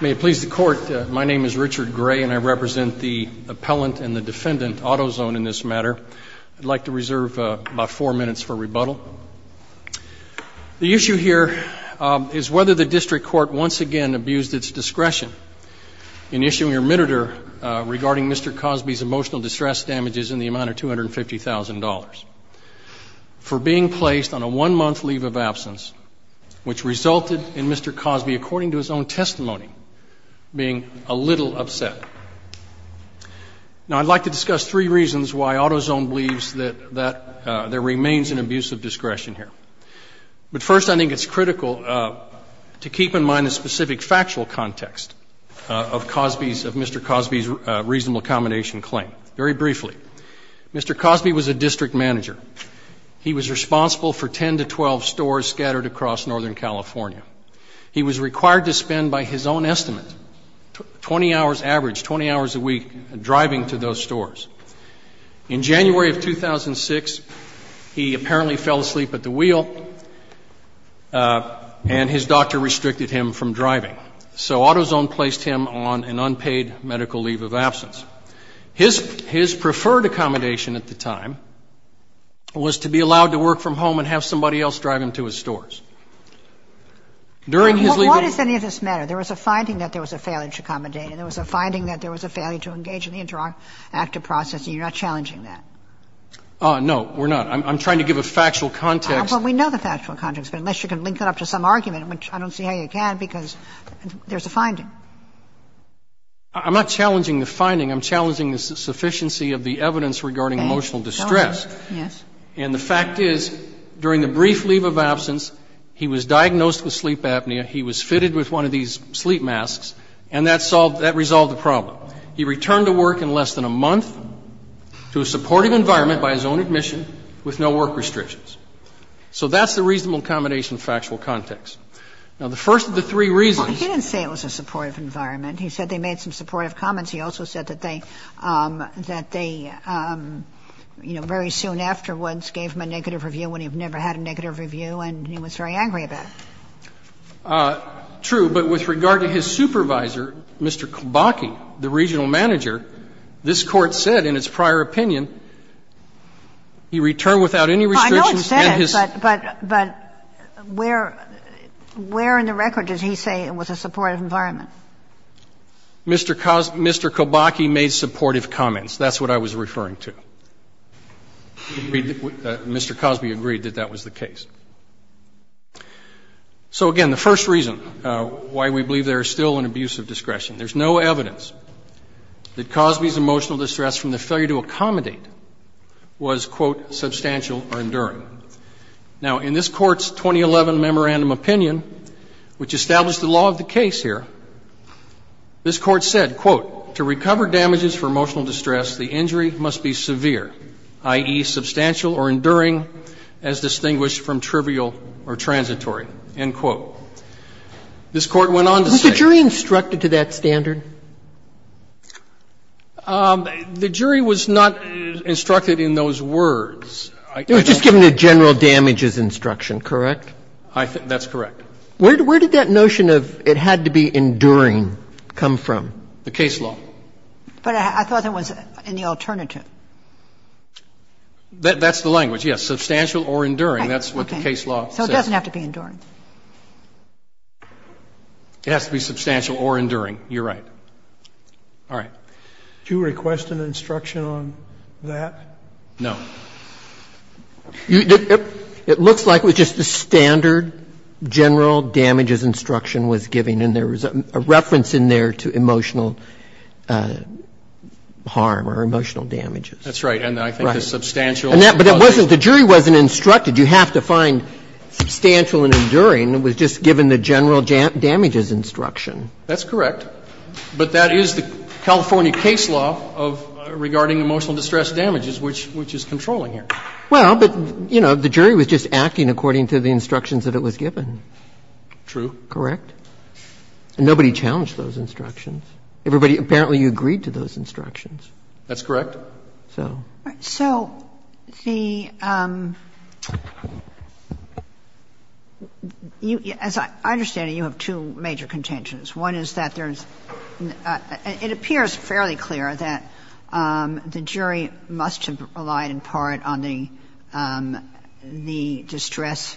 May it please the court, my name is Richard Gray and I represent the appellant and the defendant Autozone in this matter. I'd like to reserve about four minutes for rebuttal. The issue here is whether the district court once again abused its discretion in issuing a remittitor regarding Mr. Cosby's emotional distress damages in the amount of $250,000 for being placed on a remittor, according to its own testimony, being a little upset. Now, I'd like to discuss three reasons why Autozone believes that there remains an abuse of discretion here. But first, I think it's critical to keep in mind the specific factual context of Mr. Cosby's reasonable accommodation claim. Very briefly, Mr. Cosby was a district manager. He was responsible for 10 to 12 stores scattered across Northern California. He was required to spend, by his own estimate, 20 hours average, 20 hours a week, driving to those stores. In January of 2006, he apparently fell asleep at the wheel and his doctor restricted him from driving. So Autozone placed him on an unpaid medical leave of absence. His preferred accommodation at the time was to be allowed to work from home and have somebody else drive him to his stores. During his legal career. Kagan. What does any of this matter? There was a finding that there was a failure to accommodate and there was a finding that there was a failure to engage in the interactive process, and you're not challenging that. No, we're not. I'm trying to give a factual context. Well, we know the factual context, but unless you can link it up to some argument, which I don't see how you can, because there's a finding. I'm not challenging the finding. I'm challenging the sufficiency of the evidence regarding emotional distress. Yes. And the fact is, during the brief leave of absence, he was diagnosed with sleep apnea, he was fitted with one of these sleep masks, and that solved the problem. He returned to work in less than a month to a supportive environment by his own admission with no work restrictions. So that's the reasonable accommodation factual context. Now, the first of the three reasons. Well, he didn't say it was a supportive environment. He said they made some supportive comments. He also said that they, that they, you know, very soon afterwards gave him a negative review when he had never had a negative review and he was very angry about it. True. But with regard to his supervisor, Mr. Kibaki, the regional manager, this Court said in its prior opinion, he returned without any restrictions and his. Well, I know it said it, but where in the record does he say it was a supportive environment? Mr. Kibaki made supportive comments. That's what I was referring to. Mr. Cosby agreed that that was the case. So, again, the first reason why we believe there is still an abuse of discretion. There's no evidence that Cosby's emotional distress from the failure to accommodate was, quote, substantial or enduring. Now, in this Court's 2011 memorandum opinion, which established the law of the case here, this Court said, quote, to recover damages for emotional distress, the injury must be severe, i.e., substantial or enduring, as distinguished from trivial or transitory, end quote. This Court went on to say that. Was the jury instructed to that standard? The jury was not instructed in those words. It was just given a general damages instruction, correct? That's correct. Where did that notion of it had to be enduring come from? The case law. But I thought that was in the alternative. That's the language, yes, substantial or enduring. That's what the case law says. So it doesn't have to be enduring. It has to be substantial or enduring. You're right. All right. Do you request an instruction on that? No. It looks like it was just a standard general damages instruction was given, and there was a reference in there to emotional harm or emotional damages. That's right. And I think the substantial was there. But it wasn't the jury wasn't instructed. You have to find substantial and enduring. It was just given the general damages instruction. That's correct. But that is the California case law of regarding emotional distress damages, which is controlling here. Well, but, you know, the jury was just acting according to the instructions that it was given. True. Correct. And nobody challenged those instructions. Everybody – apparently you agreed to those instructions. That's correct. So. So the – as I understand it, you have two major contentions. One is that there's – it appears fairly clear that the jury must have relied in part on the distress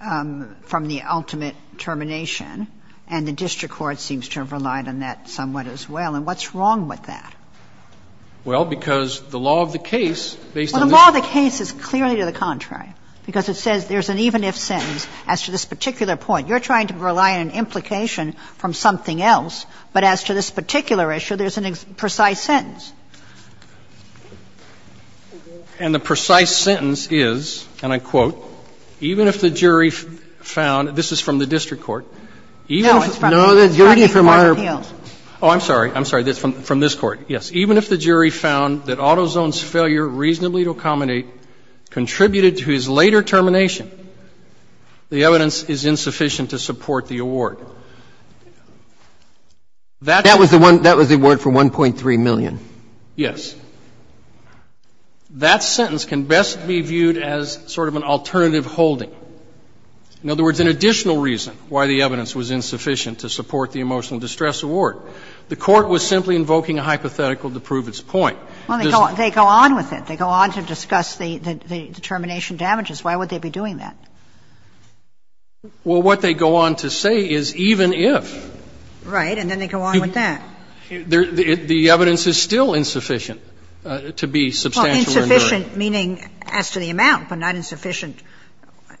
from the ultimate termination, and the district court seems to have relied on that somewhat as well. And what's wrong with that? Well, because the law of the case, based on this – Well, the law of the case is clearly to the contrary, because it says there's an even-if sentence as to this particular point. You're trying to rely on an implication from something else, but as to this particular issue, there's an precise sentence. And the precise sentence is, and I quote, Even if the jury found – this is from the district court. No, it's from the district court appeal. Oh, I'm sorry. I'm sorry. It's from this court. Yes. Even if the jury found that Autozone's failure reasonably to accommodate contributed to his later termination, the evidence is insufficient to support the award. That's – That was the one – that was the award for $1.3 million. Yes. That sentence can best be viewed as sort of an alternative holding. In other words, an additional reason why the evidence was insufficient to support the emotional distress award. The Court was simply invoking a hypothetical to prove its point. Well, they go on with it. They go on to discuss the termination damages. Why would they be doing that? Well, what they go on to say is even if. Right. And then they go on with that. The evidence is still insufficient to be substantial or enduring. Insufficient meaning as to the amount, but not insufficient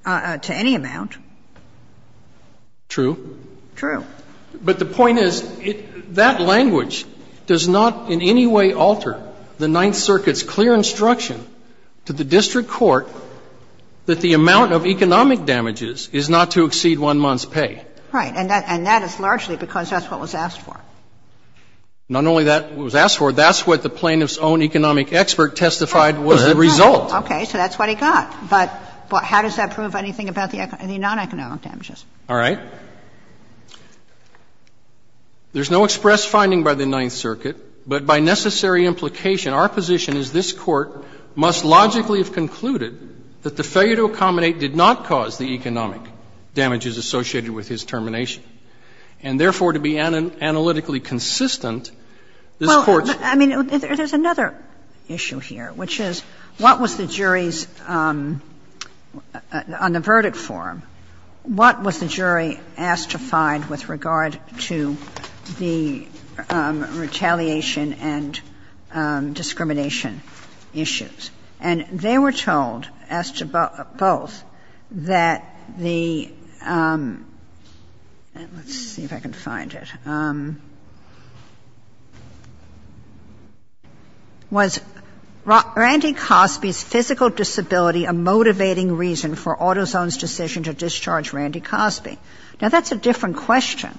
to any amount. True. True. But the point is, that language does not in any way alter the Ninth Circuit's The Ninth Circuit has given a clear instruction to the district court that the amount of economic damages is not to exceed one month's pay. Right. And that is largely because that's what was asked for. Not only that was asked for, that's what the plaintiff's own economic expert testified was the result. Okay. So that's what he got. But how does that prove anything about the non-economic damages? All right. There's no express finding by the Ninth Circuit, but by necessary implication our position is this Court must logically have concluded that the failure to accommodate did not cause the economic damages associated with his termination. And therefore, to be analytically consistent, this Court's. Well, I mean, there's another issue here, which is what was the jury's, on the verdict form, what was the jury asked to find with regard to the retaliation and discrimination issues? And they were told, asked to both, that the — let's see if I can find it. Was Randy Cosby's physical disability a motivating reason for Autozone's decision to discharge Randy Cosby? Now, that's a different question.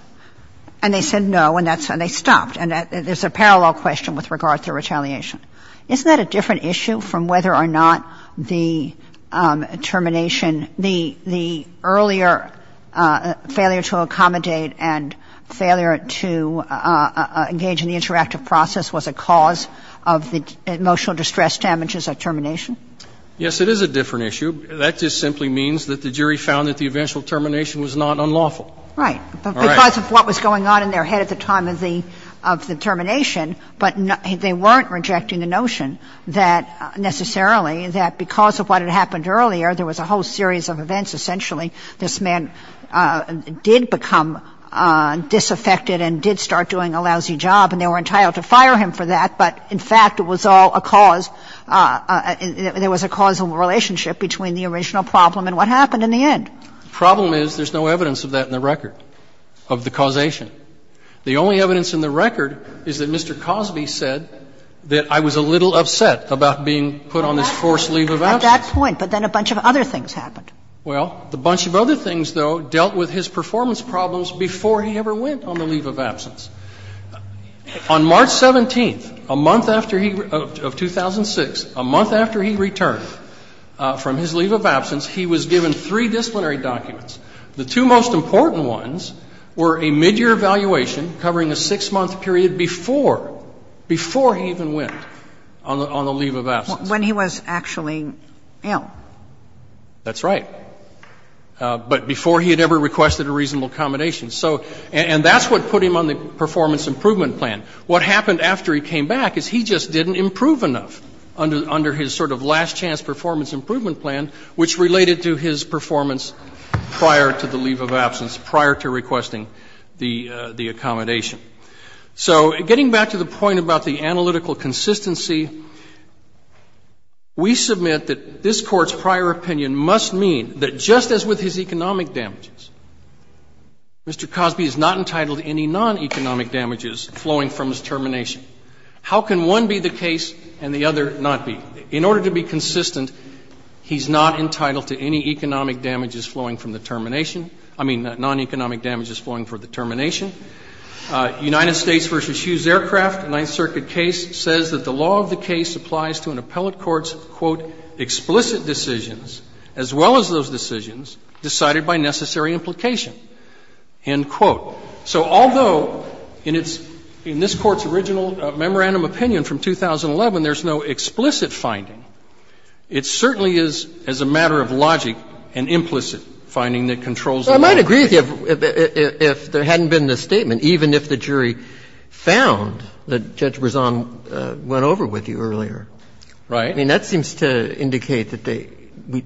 And they said no, and that's — and they stopped. And there's a parallel question with regard to retaliation. Isn't that a different issue from whether or not the termination, the earlier failure to accommodate and failure to engage in the interactive process was a cause of the emotional distress damages at termination? Yes, it is a different issue. That just simply means that the jury found that the eventual termination was not unlawful. Right. Because of what was going on in their head at the time of the — of the termination. But they weren't rejecting the notion that necessarily that because of what had happened earlier, there was a whole series of events, essentially, this man did become disaffected and did start doing a lousy job, and they were entitled to fire him for that. But in fact, it was all a cause — there was a causal relationship between the original problem and what happened in the end. The problem is there's no evidence of that in the record, of the causation. The only evidence in the record is that Mr. Cosby said that I was a little upset about being put on this forced leave of absence. At that point, but then a bunch of other things happened. Well, the bunch of other things, though, dealt with his performance problems before he ever went on the leave of absence. On March 17th, a month after he — of 2006, a month after he returned from his leave of absence, he was given three disciplinary documents. The two most important ones were a midyear evaluation covering a six-month period before, before he even went on the leave of absence. When he was actually ill. That's right. But before he had ever requested a reasonable accommodation. So — and that's what put him on the performance improvement plan. What happened after he came back is he just didn't improve enough under his sort of last-chance performance improvement plan, which related to his performance prior to the leave of absence, prior to requesting the accommodation. So getting back to the point about the analytical consistency, we submit that this Court's prior opinion must mean that just as with his economic damages, Mr. Cosby is not entitled to any non-economic damages flowing from his termination. How can one be the case and the other not be? In order to be consistent, he's not entitled to any economic damages flowing from the termination — I mean, non-economic damages flowing from the termination. United States v. Hughes Aircraft, Ninth Circuit case, says that the law of the case applies to an appellate court's, quote, explicit decisions, as well as those decisions, decided by necessary implication, end quote. So although in its — in this Court's original memorandum opinion from 2011, there's no explicit finding, it certainly is, as a matter of logic, an implicit finding that controls the law. Roberts. I might agree with you, if there hadn't been this statement, even if the jury found that Judge Rezan went over with you earlier. Right. I mean, that seems to indicate that they,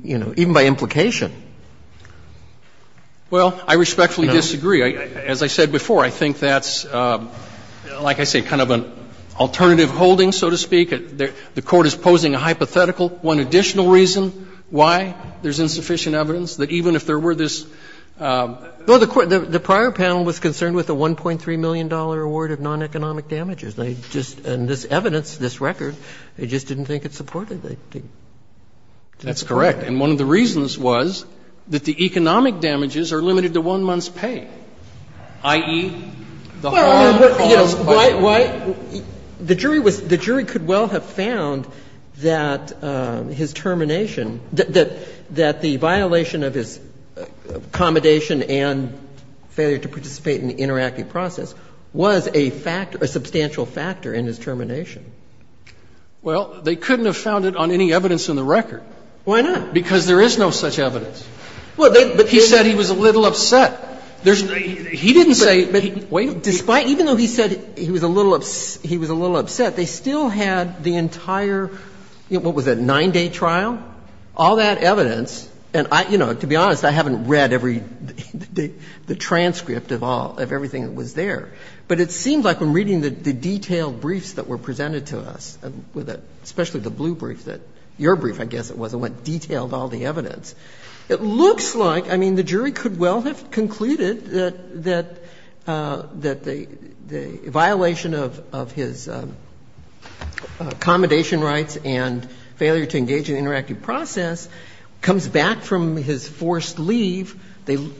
you know, even by implication, they didn't think it was sufficient. Well, I respectfully disagree. As I said before, I think that's, like I say, kind of an alternative holding, so to speak. The Court is posing a hypothetical. One additional reason why there's insufficient evidence, that even if there were this — No, the prior panel was concerned with the $1.3 million award of non-economic damages. They just — and this evidence, this record, they just didn't think it supported it. That's correct. And one of the reasons was that the economic damages are limited to one month's pay, i.e., the harm caused by the payment. Well, yes, but the jury was — the jury could well have found that his termination — that the violation of his accommodation and failure to participate in the interactive process was a factor, a substantial factor in his termination. Well, they couldn't have found it on any evidence in the record. Why not? Because there is no such evidence. But he said he was a little upset. He didn't say — Despite — even though he said he was a little upset, they still had the entire — what was it, a 9-day trial? All that evidence, and I — you know, to be honest, I haven't read every — the transcript of all — of everything that was there. But it seemed like when reading the detailed briefs that were presented to us, especially the blue brief that — your brief, I guess it was, it went detailed, all the evidence. It looks like — I mean, the jury could well have concluded that — that the violation of his accommodation rights and failure to engage in the interactive process comes back from his forced leave. They —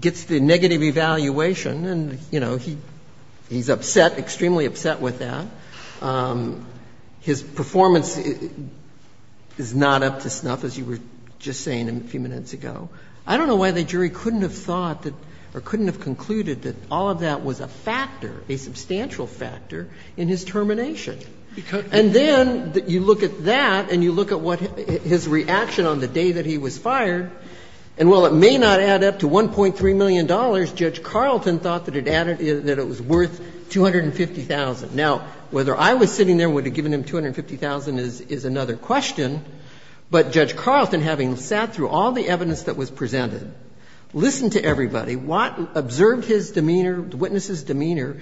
gets the negative evaluation, and, you know, he's upset, extremely upset with that. His performance is not up to snuff, as you were just saying a few minutes ago. I don't know why the jury couldn't have thought that — or couldn't have concluded that all of that was a factor, a substantial factor, in his termination. And then you look at that and you look at what — his reaction on the day that he was fired, and while it may not add up to $1.3 million, Judge Carlton thought that it added — that it was worth $250,000. Now, whether I was sitting there and would have given him $250,000 is another question, but Judge Carlton, having sat through all the evidence that was presented, listened to everybody, observed his demeanor, the witness's demeanor,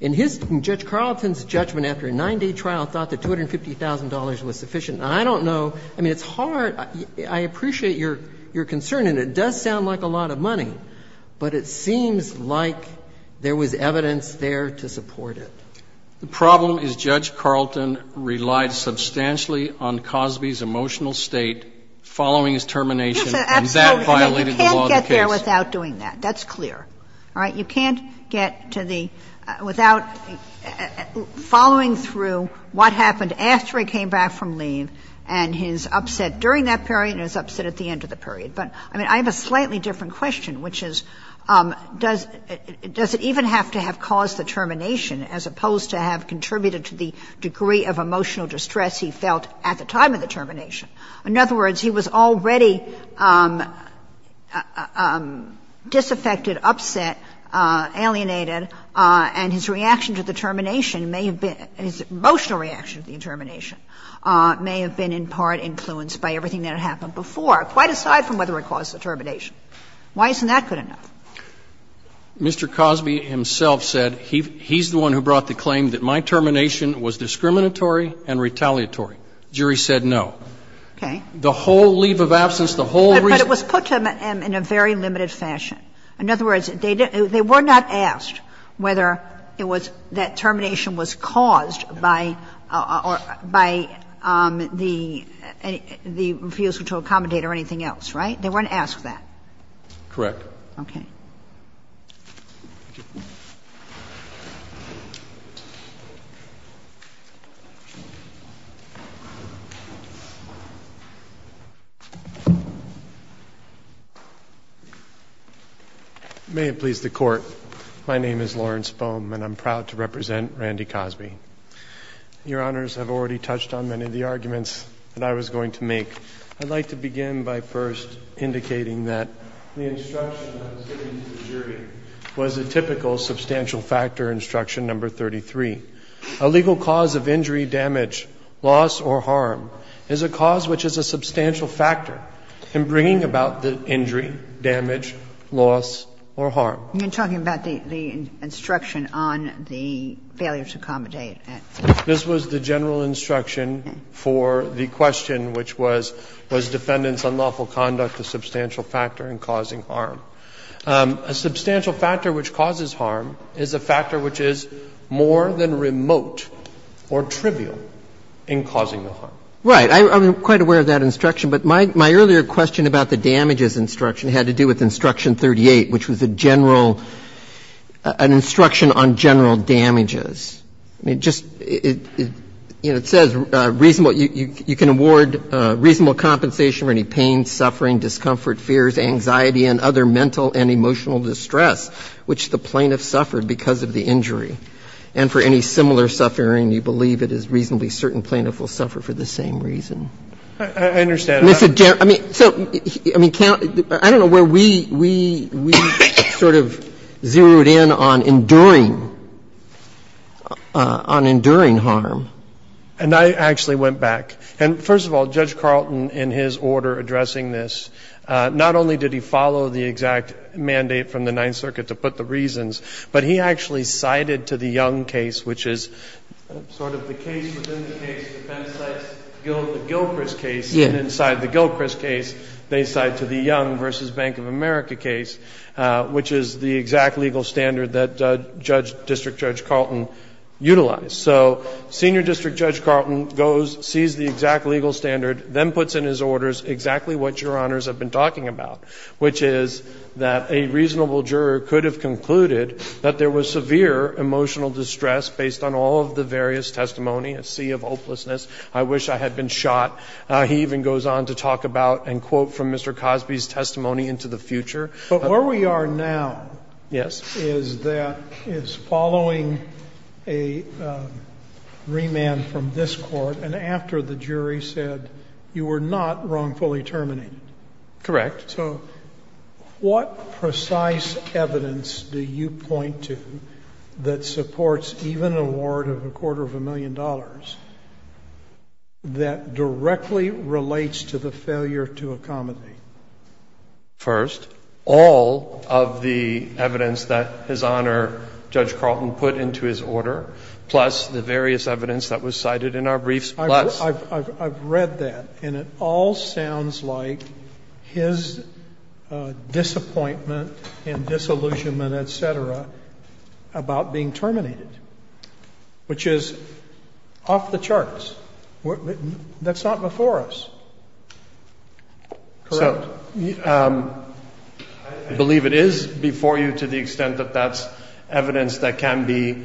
and his — Judge Carlton's judgment after a 9-day trial thought that $250,000 was sufficient. And I don't know — I mean, it's hard — I appreciate your concern, and it does sound like a lot of money, but it seems like there was evidence there to support it. The problem is Judge Carlton relied substantially on Cosby's emotional state following his termination, and that violated the law of the case. You can't get there without doing that. That's clear. All right? You can't get to the — without following through what happened after he came back from leave and his upset during that period and his upset at the end of the period. But, I mean, I have a slightly different question, which is, does it even have to have caused the termination, as opposed to have contributed to the degree of emotional distress he felt at the time of the termination? In other words, he was already disaffected, upset, alienated, and his reaction to the termination may have been — his emotional reaction to the termination may have been in part influenced by everything that had happened before, quite aside from whether it caused the termination. Why isn't that good enough? Mr. Cosby himself said he's the one who brought the claim that my termination was discriminatory and retaliatory. The jury said no. Okay. The whole leave of absence, the whole reason — But it was put to him in a very limited fashion. In other words, they were not asked whether it was that termination was caused by the refusal to accommodate or anything else, right? They weren't asked that. Correct. Okay. Thank you. May it please the Court, my name is Lawrence Boehm, and I'm proud to represent Randy Cosby. Your Honors have already touched on many of the arguments that I was going to make. I'd like to begin by first indicating that the instruction that was given to the jury was a typical substantial factor instruction number 33. A legal cause of injury, damage, loss, or harm is a cause which is a substantial factor in bringing about the injury, damage, loss, or harm. You're talking about the instruction on the failure to accommodate. This was the general instruction for the question, which was, was defendant's unlawful conduct a substantial factor in causing harm? A substantial factor which causes harm is a factor which is more than remote or trivial in causing the harm. Right. I'm quite aware of that instruction, but my earlier question about the damages instruction had to do with instruction 38, which was a general — an instruction on general damages. I mean, just — you know, it says reasonable — you can award reasonable compensation for any pain, suffering, discomfort, fears, anxiety, and other mental and emotional distress which the plaintiff suffered because of the injury. And for any similar suffering, you believe it is reasonably certain plaintiff will suffer for the same reason. I understand. I mean, so, I mean, I don't know where we — we sort of zeroed in on enduring harm, on enduring harm. And I actually went back — and, first of all, Judge Carlton, in his order addressing this, not only did he follow the exact mandate from the Ninth Circuit to put the reasons, but he actually cited to the Young case, which is sort of the case within the case, defense cites the Gilchrist case, and inside the Gilchrist case, they cite to the District Judge Carlton utilized. So Senior District Judge Carlton goes, sees the exact legal standard, then puts in his orders exactly what Your Honors have been talking about, which is that a reasonable juror could have concluded that there was severe emotional distress based on all of the various testimony, a sea of hopelessness, I wish I had been shot. He even goes on to talk about and quote from Mr. Cosby's testimony into the future. But where we are now is that — is following a remand from this Court and after the jury said you were not wrongfully terminated. Correct. So what precise evidence do you point to that supports even an award of a quarter of a million First, all of the evidence that His Honor, Judge Carlton, put into his order, plus the various evidence that was cited in our briefs, plus — I've read that, and it all sounds like his disappointment and disillusionment, et cetera, about being terminated, which is off the charts. That's not before us. Correct. So I believe it is before you to the extent that that's evidence that can be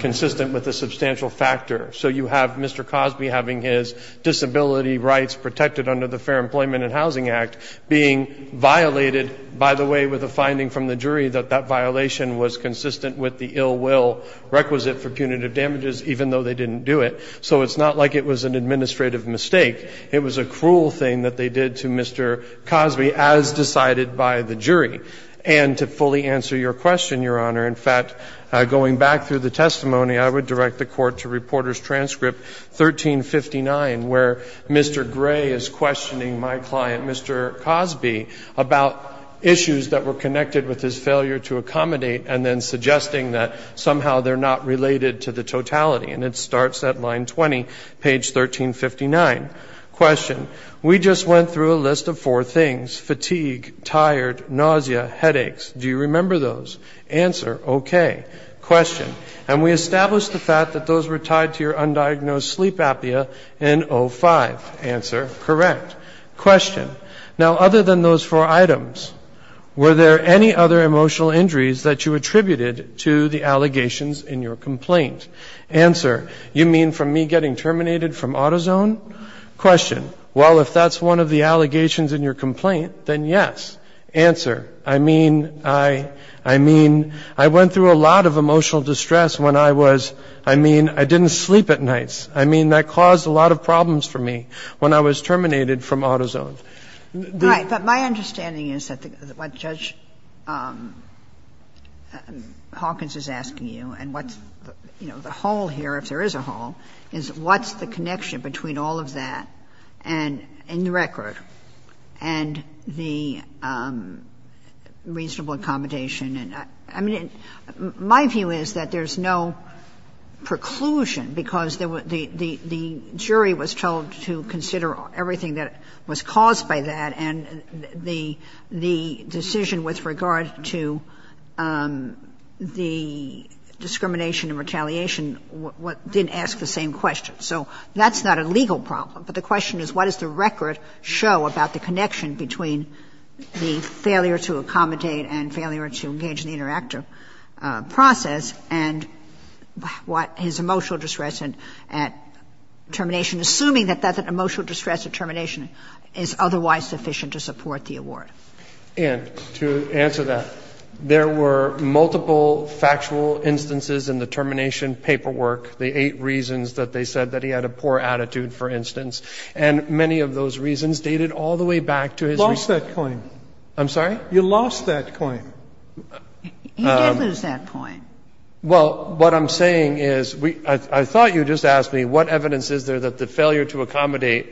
consistent with a substantial factor. So you have Mr. Cosby having his disability rights protected under the Fair Employment and Housing Act being violated, by the way, with a finding from the jury that that violation was consistent with the ill will requisite for punitive damages, even though they didn't do it. So it's not like it was an administrative mistake. It was a cruel thing that they did to Mr. Cosby, as decided by the jury. And to fully answer your question, Your Honor, in fact, going back through the testimony, I would direct the Court to Reporter's Transcript 1359, where Mr. Gray is questioning my client, Mr. Cosby, about issues that were connected with his failure to accommodate and then suggesting that somehow they're not related to the totality. And it starts at line 20, page 1359. We just went through a list of four things, fatigue, tired, nausea, headaches. Do you remember those? Answer, okay. And we established the fact that those were tied to your undiagnosed sleep apnea in 05. Answer, correct. Other than those four items, were there any other emotional injuries that you attributed to the allegations in your complaint? Answer, you mean from me getting terminated from AutoZone? Question, well, if that's one of the allegations in your complaint, then yes. Answer, I mean, I went through a lot of emotional distress when I was, I mean, I didn't sleep at nights. I mean, that caused a lot of problems for me when I was terminated from AutoZone. The Judge's Office. The whole here, if there is a whole, is what's the connection between all of that and the record and the reasonable accommodation? And I mean, my view is that there's no preclusion because the jury was told to consider everything that was caused by that and the decision with regard to the discrimination and retaliation didn't ask the same question. So that's not a legal problem, but the question is what does the record show about the connection between the failure to accommodate and failure to engage in the interactive process and what his emotional distress at termination, assuming that that emotional distress at termination is otherwise sufficient to support the award. And to answer that, there were multiple factual instances in the termination paperwork, the eight reasons that they said that he had a poor attitude, for instance, and many of those reasons dated all the way back to his. You lost that claim. I'm sorry? You lost that claim. He did lose that claim. Well, what I'm saying is, I thought you just asked me what evidence is there that the failure to accommodate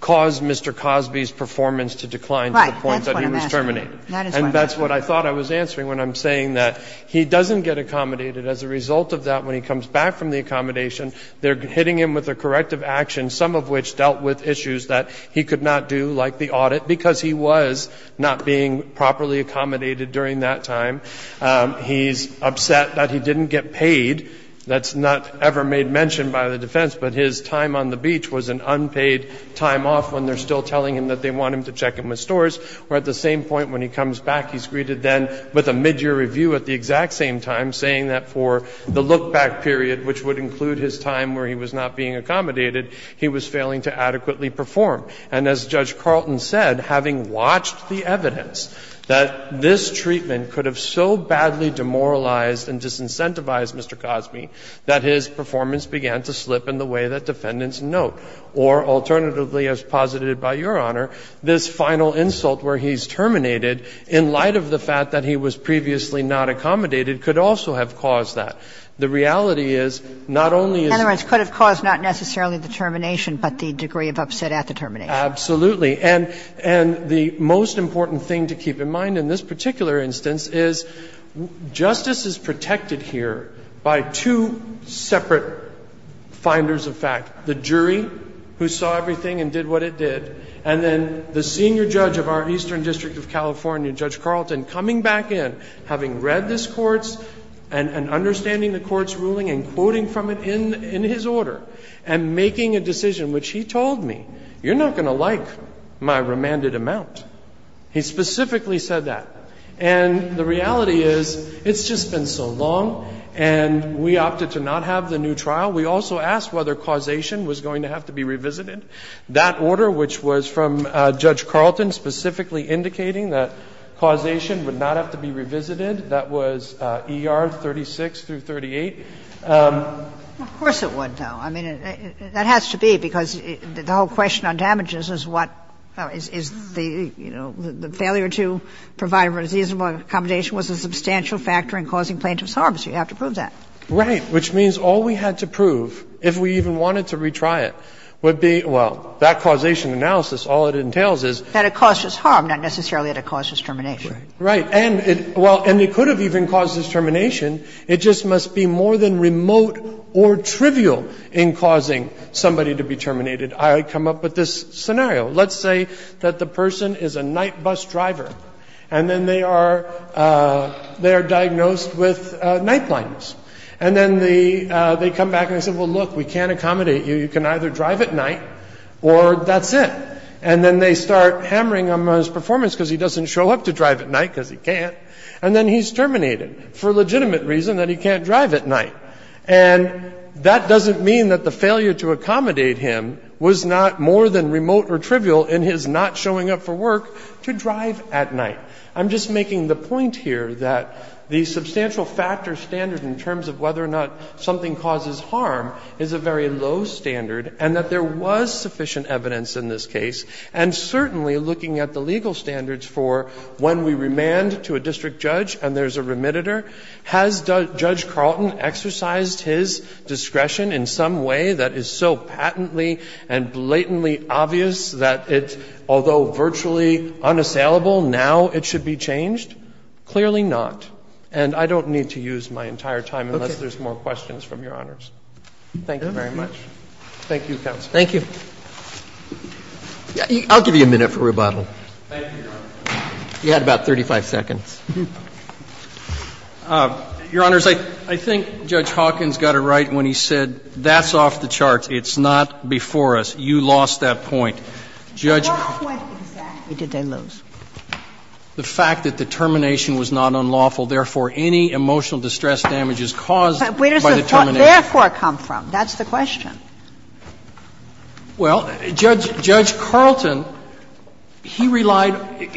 caused Mr. Cosby's performance to decline to the point that he was terminated. That's what I'm asking. And that's what I thought I was answering when I'm saying that he doesn't get accommodated. As a result of that, when he comes back from the accommodation, they're hitting him with a corrective action, some of which dealt with issues that he could not do, like the audit, because he was not being properly accommodated during that time. He's upset that he didn't get paid. That's not ever made mention by the defense, but his time on the beach was an unpaid time off when they're still telling him that they want him to check in with stores. Or at the same point when he comes back, he's greeted then with a midyear review at the exact same time, saying that for the look-back period, which would include his time where he was not being accommodated, he was failing to adequately perform. And as Judge Carlton said, having watched the evidence, that this treatment could have so badly demoralized and disincentivized Mr. Cosby, that his performance began to slip in the way that defendants note. Or alternatively, as posited by Your Honor, this final insult where he's terminated in light of the fact that he was previously not accommodated could also have caused that. The reality is, not only is it going to cause not necessarily the termination, but the degree of upset at the termination. Absolutely. And the most important thing to keep in mind in this particular instance is justice is protected here by two separate finders of fact. The jury, who saw everything and did what it did, and then the senior judge of our Eastern District of California, Judge Carlton, coming back in, having read this court's and understanding the court's ruling and quoting from it in his order, and making a decision which he told me, you're not going to like my remanded amount. He specifically said that. And the reality is, it's just been so long, and we opted to not have the new trial. We also asked whether causation was going to have to be revisited. That order, which was from Judge Carlton specifically indicating that causation would not have to be revisited, that was E.R. 36 through 38. Of course it would, though. I mean, that has to be, because the whole question on damages is what is the, you know, what is the reasonable accommodation was a substantial factor in causing plaintiff's harm, so you have to prove that. Right. Which means all we had to prove, if we even wanted to retry it, would be, well, that causation analysis, all it entails is that it caused us harm, not necessarily that it caused us termination. Right. And it, well, and it could have even caused us termination, it just must be more than remote or trivial in causing somebody to be terminated. I come up with this scenario. Let's say that the person is a night bus driver, and then they are diagnosed with night blindness, and then they come back and they say, well, look, we can't accommodate you, you can either drive at night or that's it, and then they start hammering him on his performance because he doesn't show up to drive at night because he can't, and then he's terminated for a legitimate reason, that he can't drive at night. And that doesn't mean that the failure to accommodate him was not more than remote or trivial in his not showing up for work to drive at night. I'm just making the point here that the substantial factor standard in terms of whether or not something causes harm is a very low standard, and that there was sufficient evidence in this case, and certainly looking at the legal standards for when we remand to a district judge and there's a remitter, has Judge Carlton exercised his discretion in some way that is so patently and blatantly obvious that it, although virtually unassailable, now it should be changed? Clearly not. And I don't need to use my entire time unless there's more questions from Your Honors. Thank you very much. Thank you, counsel. Roberts. Thank you. I'll give you a minute for rebuttal. Thank you, Your Honor. You had about 35 seconds. Your Honors, I think Judge Hawkins got it right when he said, that's off the charts. It's not before us. You lost that point. Judge Karlton. What point exactly did they lose? The fact that the termination was not unlawful, therefore, any emotional distress damage is caused by the termination. Where does the thought, therefore, come from? That's the question. Well, Judge Carlton, he relied,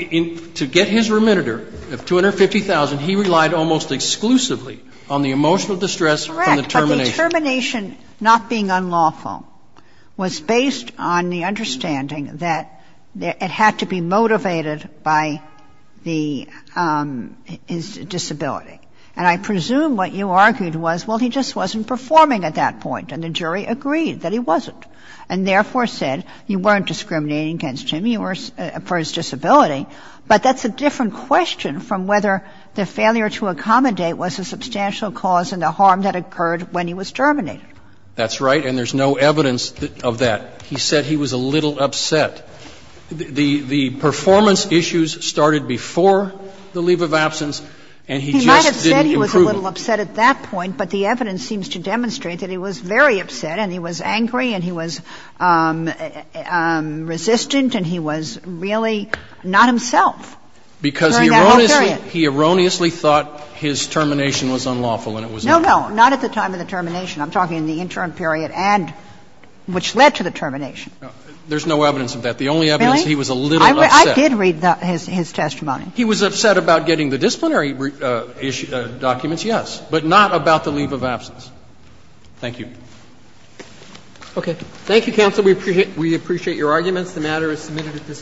to get his remitter of $250,000, he relied almost exclusively on the emotional distress from the termination. Correct. But the termination not being unlawful was based on the understanding that it had to be motivated by the disability. And I presume what you argued was, well, he just wasn't performing at that point. And the jury agreed. The jury agreed that he wasn't, and, therefore, said you weren't discriminating against him for his disability. But that's a different question from whether the failure to accommodate was a substantial cause in the harm that occurred when he was terminated. That's right, and there's no evidence of that. He said he was a little upset. The performance issues started before the leave of absence, and he just didn't improve it. He might have said he was a little upset at that point, but the evidence seems to demonstrate that he was very upset, and he was angry, and he was resistant, and he was really not himself during that whole period. Because he erroneously thought his termination was unlawful, and it was not. No, no, not at the time of the termination. I'm talking in the interim period and which led to the termination. There's no evidence of that. The only evidence is he was a little upset. Really? I did read his testimony. He was upset about getting the disciplinary documents, yes, but not about the leave of absence. Thank you. Okay. Thank you, counsel. We appreciate your arguments. The matter is submitted at this time.